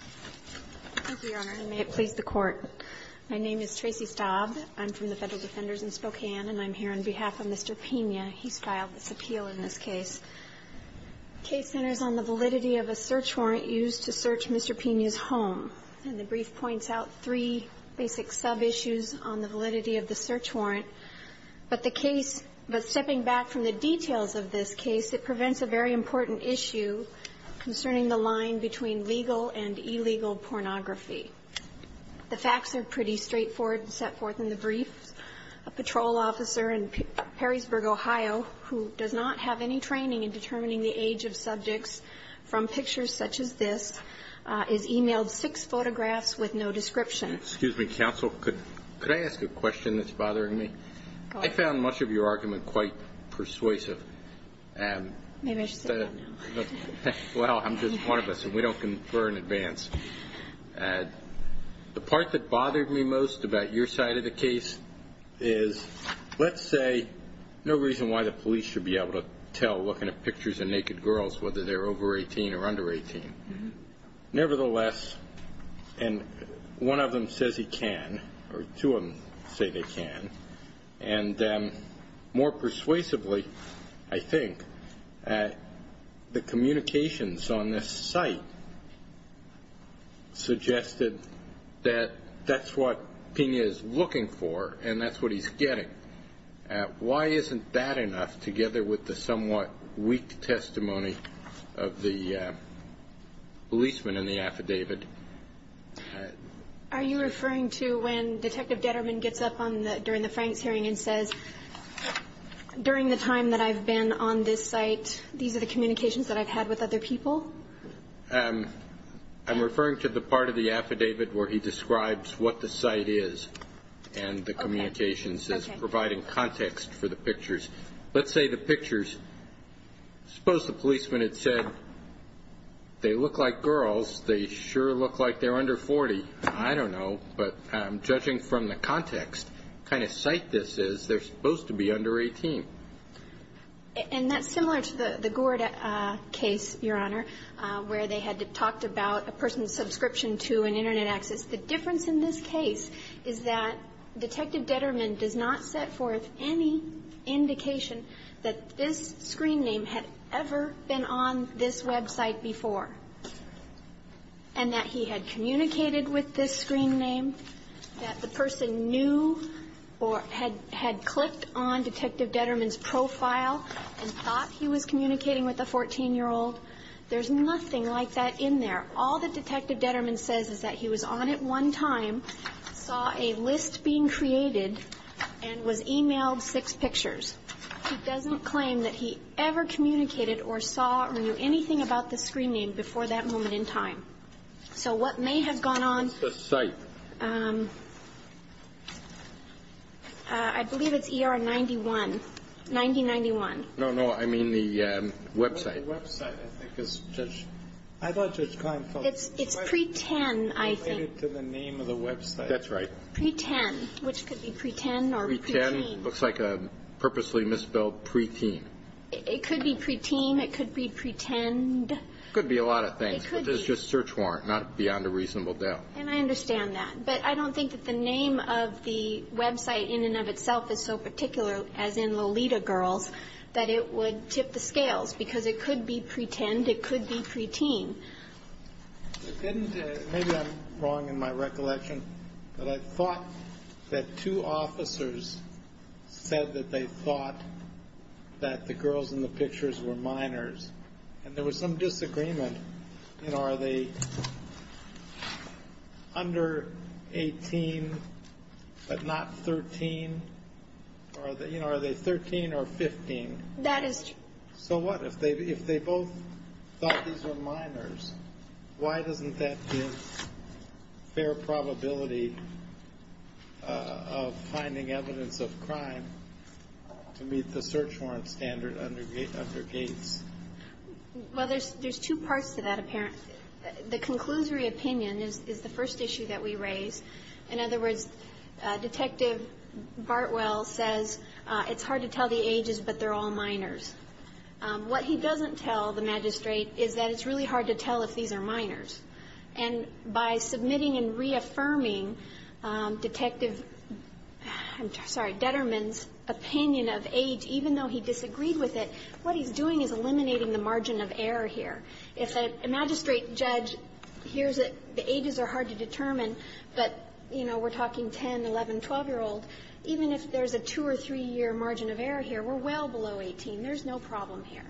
Thank you, Your Honor, and may it please the Court. My name is Tracy Staub. I'm from the Federal Defenders in Spokane, and I'm here on behalf of Mr. Pena. He's filed this appeal in this case. Case centers on the validity of a search warrant used to search Mr. Pena's home. And the brief points out three basic sub-issues on the validity of the search warrant. But the case – but stepping back from the details of this case, it prevents a very important issue concerning the line between legal and illegal pornography. The facts are pretty straightforward and set forth in the brief. A patrol officer in Perrysburg, Ohio, who does not have any training in determining the age of subjects from pictures such as this, is emailed six photographs with no description. Excuse me, counsel. Could I ask a question that's bothering me? I found much of your argument quite persuasive. Maybe I should say that now. Well, I'm just one of us, and we don't confer in advance. The part that bothered me most about your side of the case is, let's say, no reason why the says he can, or two of them say they can. And more persuasively, I think, the communications on this site suggested that that's what Pena is looking for, and that's what he's getting. Why isn't that enough, together with the somewhat weak testimony of the policeman in the affidavit? Are you referring to when Detective Detterman gets up during the Franks hearing and says, during the time that I've been on this site, these are the communications that I've had with other people? I'm referring to the part of the affidavit where he describes what the site is and the communications is providing context for the pictures. Let's say the I don't know, but judging from the context, the kind of site this is, they're supposed to be under 18. And that's similar to the Gord case, Your Honor, where they had talked about a person's subscription to an Internet access. The difference in this case is that Detective Detterman does not set forth any indication that this screen name had ever been on this website before, and that he had communicated with this screen name, that the person knew or had clicked on Detective Detterman's profile and thought he was communicating with a 14-year-old. There's nothing like that in there. All that Detective Detterman says is that he was on it one time, saw a list being created, and was emailed six pictures. He doesn't claim that he ever communicated or saw or knew anything about the screen name before that moment in time. So what may have gone on... What's the site? I believe it's ER 91, 9091. No, no, I mean the website. The website, I think, is just... I thought Judge Klein felt... It's pre-10, I think. Related to the name of the website. That's right. Pre-10, which could be pre-10 or pre-teen. Pre-10 looks like a purposely misspelled pre-teen. It could be pre-teen. It could be pre-10. It could be a lot of things. It could be. But this is just search warrant, not beyond a reasonable doubt. And I understand that. But I don't think that the name of the website in and of itself is so particular, as in Lolita Girls, that it would tip the scales. Because it could be pre-10, it could be pre-teen. Maybe I'm wrong in my recollection, but I thought that two officers said that they thought that the girls in the pictures were minors. And there was some disagreement. You know, are they under 18, but not 13? You know, are they 13 or 15? That is... So what? If they both thought these were minors, why doesn't that give fair probability of finding evidence of crime to meet the search warrant standard under Gates? Well, there's two parts to that, apparently. The conclusory opinion is the first issue that we raise. In other words, Detective Bartwell says it's hard to tell the ages, but they're all minors. What he doesn't tell the magistrate is that it's really hard to tell if these are minors. And by submitting and reaffirming Detective, I'm sorry, Detterman's opinion of age, even though he disagreed with it, what he's doing is eliminating the margin of error here. If a magistrate judge hears that the ages are hard to determine, but, you know, we're talking 10-, 11-, 12-year-old, even if there's a two- or three-year margin of error here, we're well below 18. There's no problem here.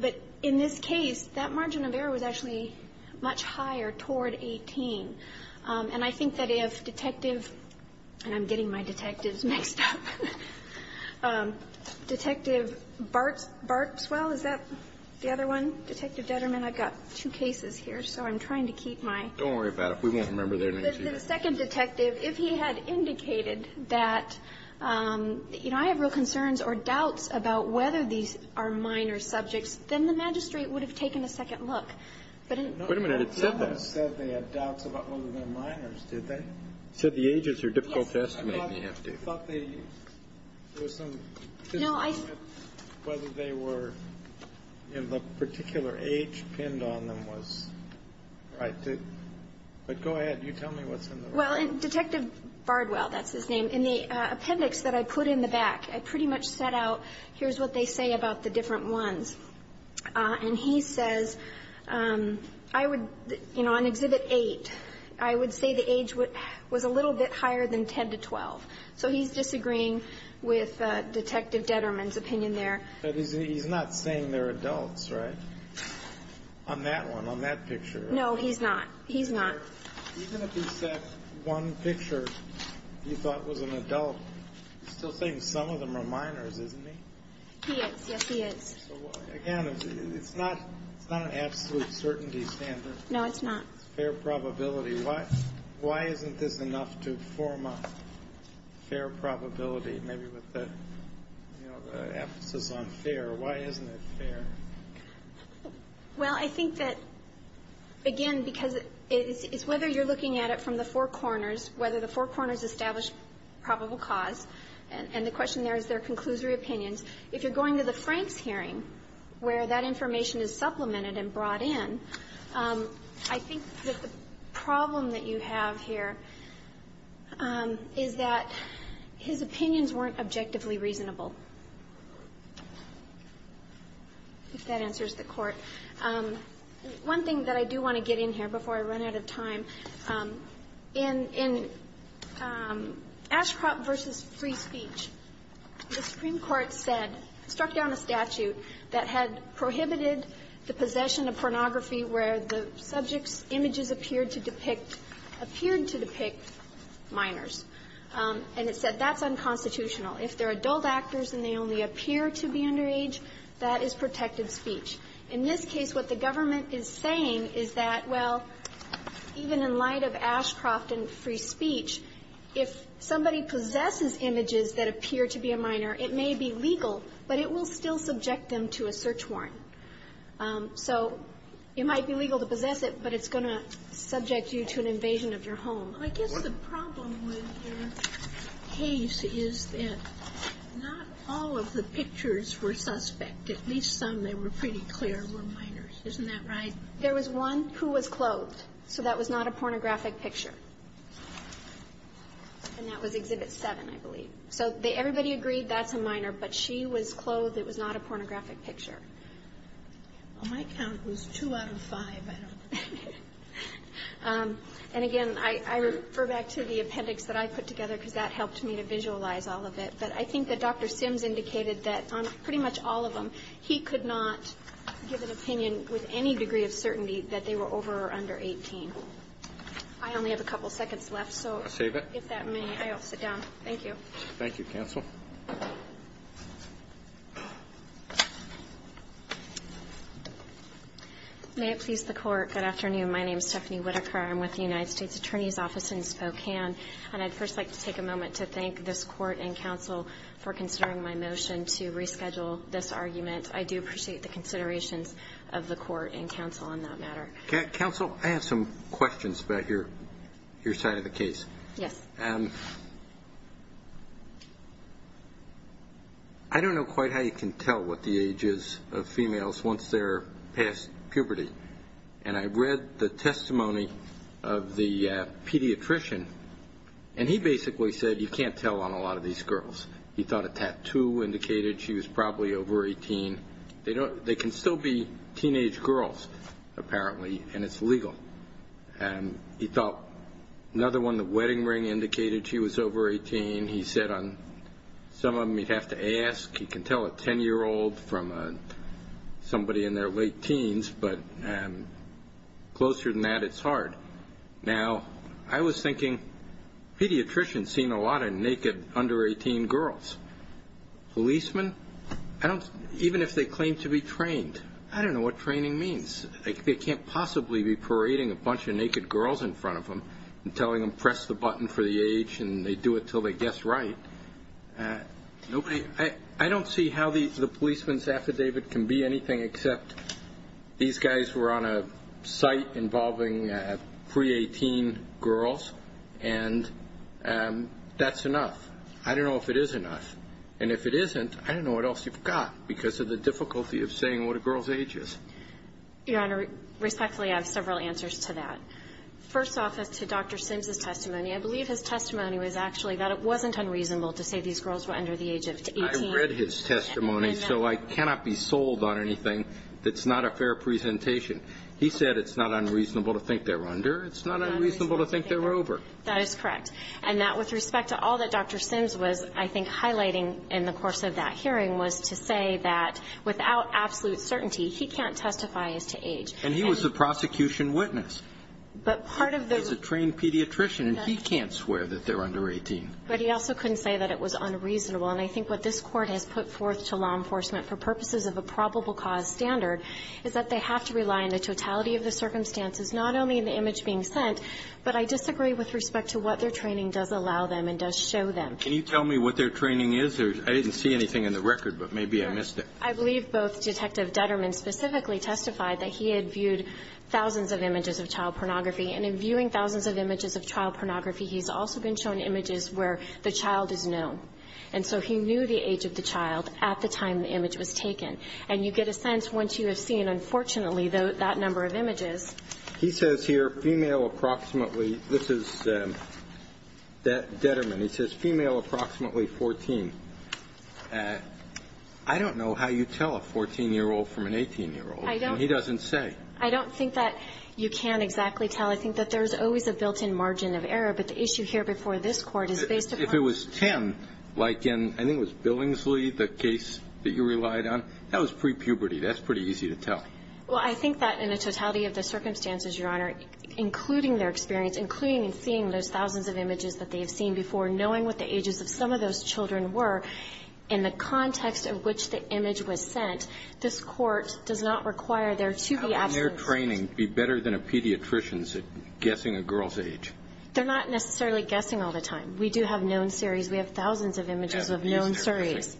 But in this case, that margin of error was actually much higher toward 18. And I think that if Detective, and I'm getting my detectives mixed up, Detective Bartwell, is that the other one? Detective Detterman, I've got two cases here. So I'm trying to keep my ---- Don't worry about it. We won't remember their names either. The second detective, if he had indicated that, you know, I have real concerns or doubts about whether these are minor subjects, then the magistrate would have taken a second look. But in ---- Wait a minute. It said that. It said they had doubts about whether they're minors, did they? It said the ages are difficult to estimate. Yes. I thought they ---- There was some ---- No, I ---- Whether they were in the particular age pinned on them was right. But go ahead. You tell me what's in the record. Well, Detective Bartwell, that's his name, in the appendix that I put in the back, I pretty much set out, here's what they say about the different ones. And he says, I would, you know, on Exhibit 8, I would say the age was a little bit higher than 10 to 12. So he's disagreeing with Detective Detterman's opinion there. But he's not saying they're adults, right, on that one, on that picture? No, he's not. He's not. Even if he said one picture he thought was an adult, he's still saying some of them are minors, isn't he? He is. Yes, he is. So, again, it's not an absolute certainty standard. No, it's not. Fair probability. Why isn't this enough to form a fair probability, maybe with the emphasis on fair? Why isn't it fair? Well, I think that, again, because it's whether you're looking at it from the four corners, whether the four corners establish probable cause, and the question there is their conclusory opinions. If you're going to the Franks hearing, where that information is supplemented and brought in, I think that the problem that you have here is that his opinions weren't objectively reasonable, if that answers the Court. One thing that I do want to get in here before I run out of time, in Ashcroft v. Free Speech, the Supreme Court said, struck down a statute that had prohibited the possession of pornography where the subject's images appeared to depict minors, and it said that's unconstitutional. If they're adult actors and they only appear to be underage, that is protected speech. In this case, what the government is saying is that, well, even in light of Ashcroft and Free Speech, if somebody possesses images that appear to be a minor, it may be legal, but it will still subject them to a search warrant. So it might be legal to possess it, but it's going to subject you to an invasion of your home. I guess the problem with your case is that not all of the pictures were suspect. At least some that were pretty clear were minors. Isn't that right? There was one who was clothed, so that was not a pornographic picture. And that was Exhibit 7, I believe. So everybody agreed that's a minor, but she was clothed. It was not a pornographic picture. On my count, it was 2 out of 5. And again, I refer back to the appendix that I put together because that helped me to visualize all of it. But I think that Dr. Sims indicated that on pretty much all of them, he could not give an opinion with any degree of certainty that they were over or under 18. I only have a couple seconds left, so if that may. I'll save it. Thank you, counsel. May it please the Court. Good afternoon. My name is Stephanie Whitaker. I'm with the United States Attorney's Office in Spokane. And I'd first like to take a moment to thank this Court and counsel for considering my motion to reschedule this argument. I do appreciate the considerations of the Court and counsel on that matter. Counsel, I have some questions about your side of the case. Yes. I don't know quite how you can tell what the age is of females once they're past puberty. And I read the testimony of the pediatrician, and he basically said you can't tell on a lot of these girls. He thought a tattoo indicated she was probably over 18. They can still be teenage girls, apparently, and it's legal. He thought another one, the wedding ring indicated she was over 18. He said on some of them you'd have to ask. He can tell a 10-year-old from somebody in their late teens. But closer than that, it's hard. Now, I was thinking pediatricians seen a lot of naked under-18 girls. Policemen, even if they claim to be trained, I don't know what training means. They can't possibly be parading a bunch of naked girls in front of them and telling them press the button for the age, and they do it until they guess right. I don't see how the policeman's affidavit can be anything except these guys were on a site involving pre-18 girls, and that's enough. I don't know if it is enough. And if it isn't, I don't know what else you've got because of the difficulty of saying what a girl's age is. Your Honor, respectfully, I have several answers to that. First off is to Dr. Sims' testimony. I believe his testimony was actually that it wasn't unreasonable to say these girls were under the age of 18. I read his testimony, so I cannot be sold on anything that's not a fair presentation. He said it's not unreasonable to think they're under. It's not unreasonable to think they're over. That is correct. And that with respect to all that Dr. Sims was, I think, highlighting in the course of that hearing was to say that without absolute certainty, he can't testify as to age. And he was a prosecution witness. But part of the ---- He's a trained pediatrician, and he can't swear that they're under 18. But he also couldn't say that it was unreasonable. And I think what this Court has put forth to law enforcement for purposes of a probable cause standard is that they have to rely on the totality of the circumstances, not only in the image being sent, but I disagree with respect to what their training does allow them and does show them. Can you tell me what their training is? I didn't see anything in the record, but maybe I missed it. I believe both Detective Detterman specifically testified that he had viewed thousands of images of child pornography. And in viewing thousands of images of child pornography, he's also been shown images where the child is known. And so he knew the age of the child at the time the image was taken. And you get a sense once you have seen, unfortunately, that number of images. He says here, female approximately. This is Detterman. He says female approximately 14. I don't know how you tell a 14-year-old from an 18-year-old. And he doesn't say. I don't think that you can exactly tell. I think that there's always a built-in margin of error. But the issue here before this Court is based upon the... If it was 10, like in, I think it was Billingsley, the case that you relied on, that was pre-puberty. That's pretty easy to tell. Well, I think that in the totality of the circumstances, Your Honor, including their experience, including seeing those thousands of images that they have seen before, knowing what the ages of some of those children were, in the context of which the image was sent, this Court does not require there to be absence. How can their training be better than a pediatrician's guessing a girl's age? They're not necessarily guessing all the time. We do have known series. We have thousands of images of known series.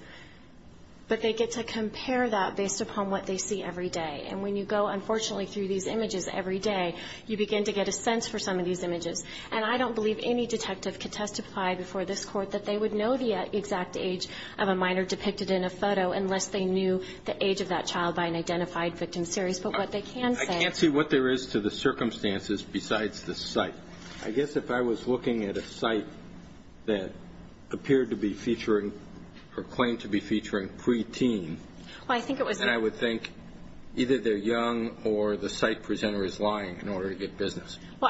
But they get to compare that based upon what they see every day. And when you go, unfortunately, through these images every day, you begin to get a sense for some of these images. And I don't believe any detective could testify before this Court that they would know the exact age of a minor depicted in a photo unless they knew the age of that child by an identified victim series. But what they can say... I can't see what there is to the circumstances besides the site. I guess if I was looking at a site that appeared to be featuring or claimed to be featuring pre-teen... Well, I think it was... Well,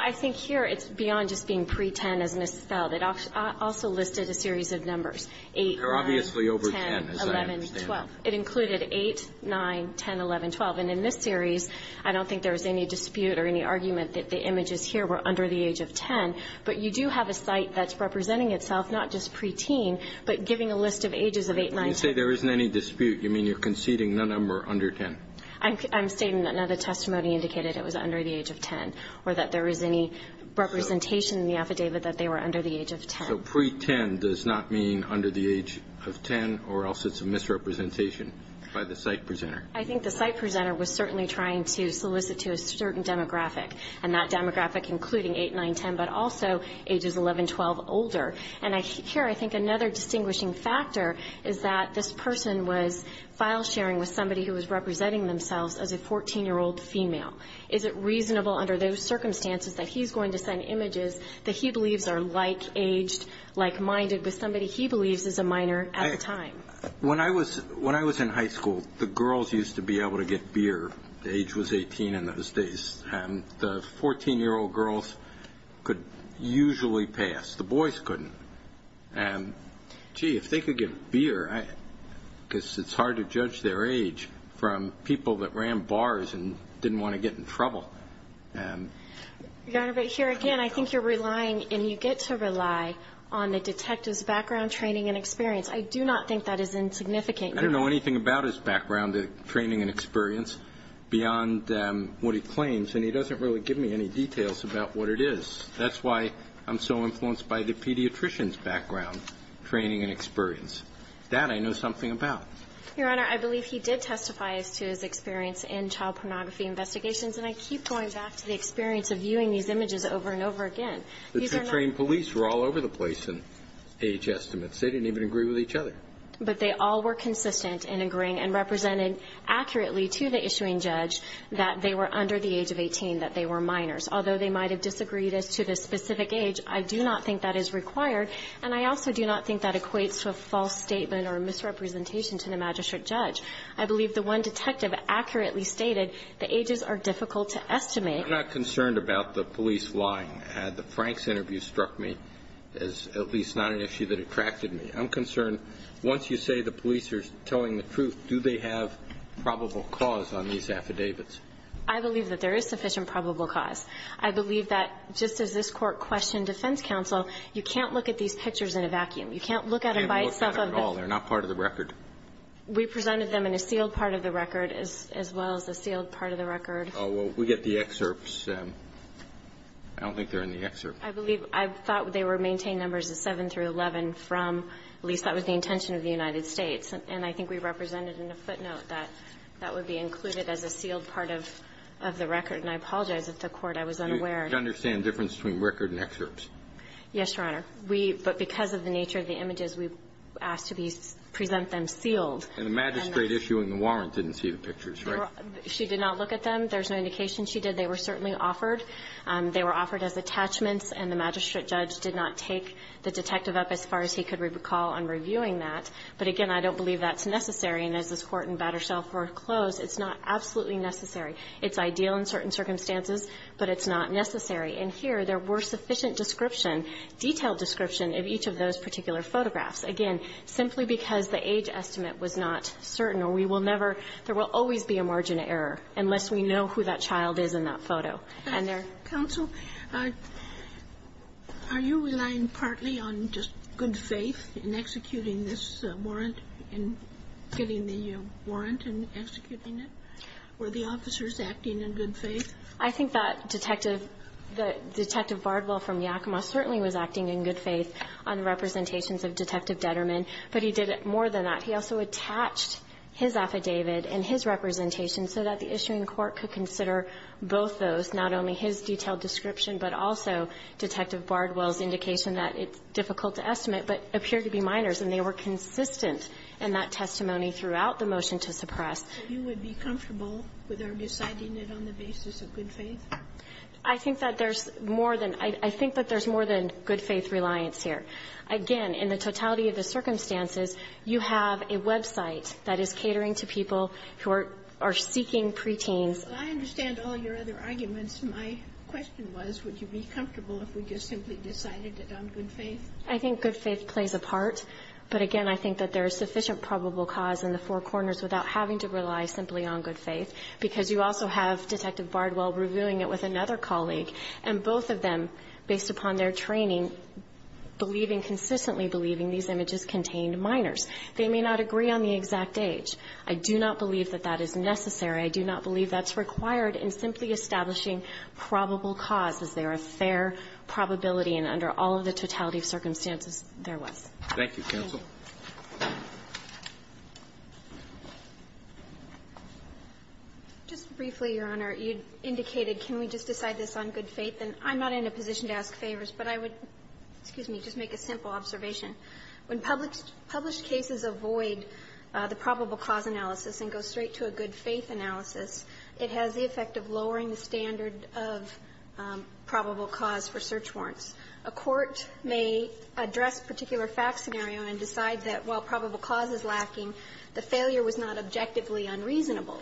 I think here it's beyond just being pre-10 as misspelled. It also listed a series of numbers, 8, 9, 10, 11, 12. They're obviously over 10, as I understand. It included 8, 9, 10, 11, 12. And in this series, I don't think there was any dispute or any argument that the images here were under the age of 10. But you do have a site that's representing itself, not just pre-teen, but giving a list of ages of 8, 9, 10. When you say there isn't any dispute, you mean you're conceding none of them were under 10? I'm stating that the testimony indicated it was under the age of 10, or that there was any representation in the affidavit that they were under the age of 10. So pre-10 does not mean under the age of 10, or else it's a misrepresentation by the site presenter? I think the site presenter was certainly trying to solicit to a certain demographic, and that demographic including 8, 9, 10, but also ages 11, 12, older. And here I think another distinguishing factor is that this person was file sharing with somebody who was representing themselves as a 14-year-old female. Is it reasonable under those circumstances that he's going to send images that he believes are like-aged, like-minded with somebody he believes is a minor at the time? When I was in high school, the girls used to be able to get beer. Age was 18 in those days. And the 14-year-old girls could usually pass. The boys couldn't. And, gee, if they could get beer, because it's hard to judge their age from people that ran bars and didn't want to get in trouble. Your Honor, but here again, I think you're relying and you get to rely on the detective's background, training, and experience. I do not think that is insignificant. I don't know anything about his background, training, and experience beyond what he claims, and he doesn't really give me any details about what it is. That's why I'm so influenced by the pediatrician's background, training, and experience. That I know something about. Your Honor, I believe he did testify as to his experience in child pornography investigations, and I keep going back to the experience of viewing these images over and over again. The trained police were all over the place in age estimates. They didn't even agree with each other. But they all were consistent in agreeing and representing accurately to the issuing judge that they were under the age of 18, that they were minors, although they might have disagreed as to the specific age. I do not think that is required, and I also do not think that equates to a false statement or misrepresentation to the magistrate judge. I believe the one detective accurately stated the ages are difficult to estimate. I'm not concerned about the police lying. The Franks interview struck me as at least not an issue that attracted me. I'm concerned once you say the police are telling the truth, do they have probable cause on these affidavits? I believe that there is sufficient probable cause. I believe that just as this Court questioned defense counsel, you can't look at these pictures in a vacuum. You can't look at them by itself. They're not part of the record. We presented them in a sealed part of the record as well as a sealed part of the record. Oh, well, we get the excerpts. I don't think they're in the excerpt. I believe I thought they were maintained numbers of 7 through 11 from, at least that was the intention of the United States. And I think we represented in a footnote that that would be included as a sealed part of the record. And I apologize if the Court, I was unaware. You understand the difference between record and excerpts? Yes, Your Honor. We – but because of the nature of the images, we asked to present them sealed. And the magistrate issuing the warrant didn't see the pictures, right? She did not look at them. There's no indication she did. They were certainly offered. They were offered as attachments. And the magistrate judge did not take the detective up as far as he could recall on reviewing that. But again, I don't believe that's necessary. And as this Court in Battersell foreclosed, it's not absolutely necessary. It's ideal in certain circumstances, but it's not necessary. And here, there were sufficient description, detailed description of each of those particular photographs. Again, simply because the age estimate was not certain, or we will never – there will always be a margin of error unless we know who that child is in that photo. And there – Counsel, are you relying partly on just good faith in executing this warrant and getting the warrant and executing it? Were the officers acting in good faith? I think that Detective – that Detective Bardwell from Yakima certainly was acting in good faith on the representations of Detective Detterman. But he did more than that. He also attached his affidavit and his representation so that the issuing court could consider both those, not only his detailed description, but also Detective Bardwell's indication that it's difficult to estimate, but appeared to be minors. And they were consistent in that testimony throughout the motion to suppress. So you would be comfortable with our deciding it on the basis of good faith? I think that there's more than – I think that there's more than good faith reliance here. Again, in the totality of the circumstances, you have a website that is catering to people who are seeking preteens. Well, I understand all your other arguments. My question was, would you be comfortable if we just simply decided it on good faith? I think good faith plays a part, but again, I think that there is sufficient evidence of probable cause in the four corners without having to rely simply on good faith, because you also have Detective Bardwell reviewing it with another colleague, and both of them, based upon their training, believing, consistently believing these images contained minors. They may not agree on the exact age. I do not believe that that is necessary. I do not believe that's required in simply establishing probable cause, as there are fair probability and under all of the totality of circumstances there was. Thank you, counsel. Just briefly, Your Honor, you indicated can we just decide this on good faith. And I'm not in a position to ask favors, but I would – excuse me – just make a simple observation. When published cases avoid the probable cause analysis and go straight to a good faith analysis, it has the effect of lowering the standard of probable cause for search warrants. A court may address a particular fact scenario and decide that while probable cause is lacking, the failure was not objectively unreasonable,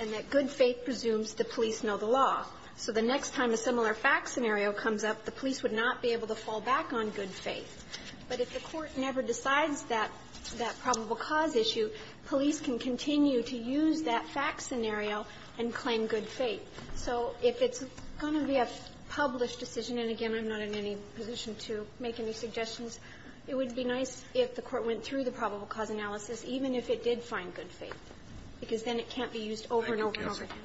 and that good faith presumes the police know the law. So the next time a similar fact scenario comes up, the police would not be able to fall back on good faith. But if the court never decides that probable cause issue, police can continue to use that fact scenario and claim good faith. So if it's going to be a published decision, and again, I'm not in any position to make any suggestions, it would be nice if the court went through the probable cause analysis, even if it did find good faith, because then it can't be used over and over and over again.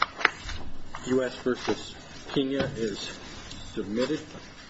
Roberts. U.S. v. Kenya is submitted.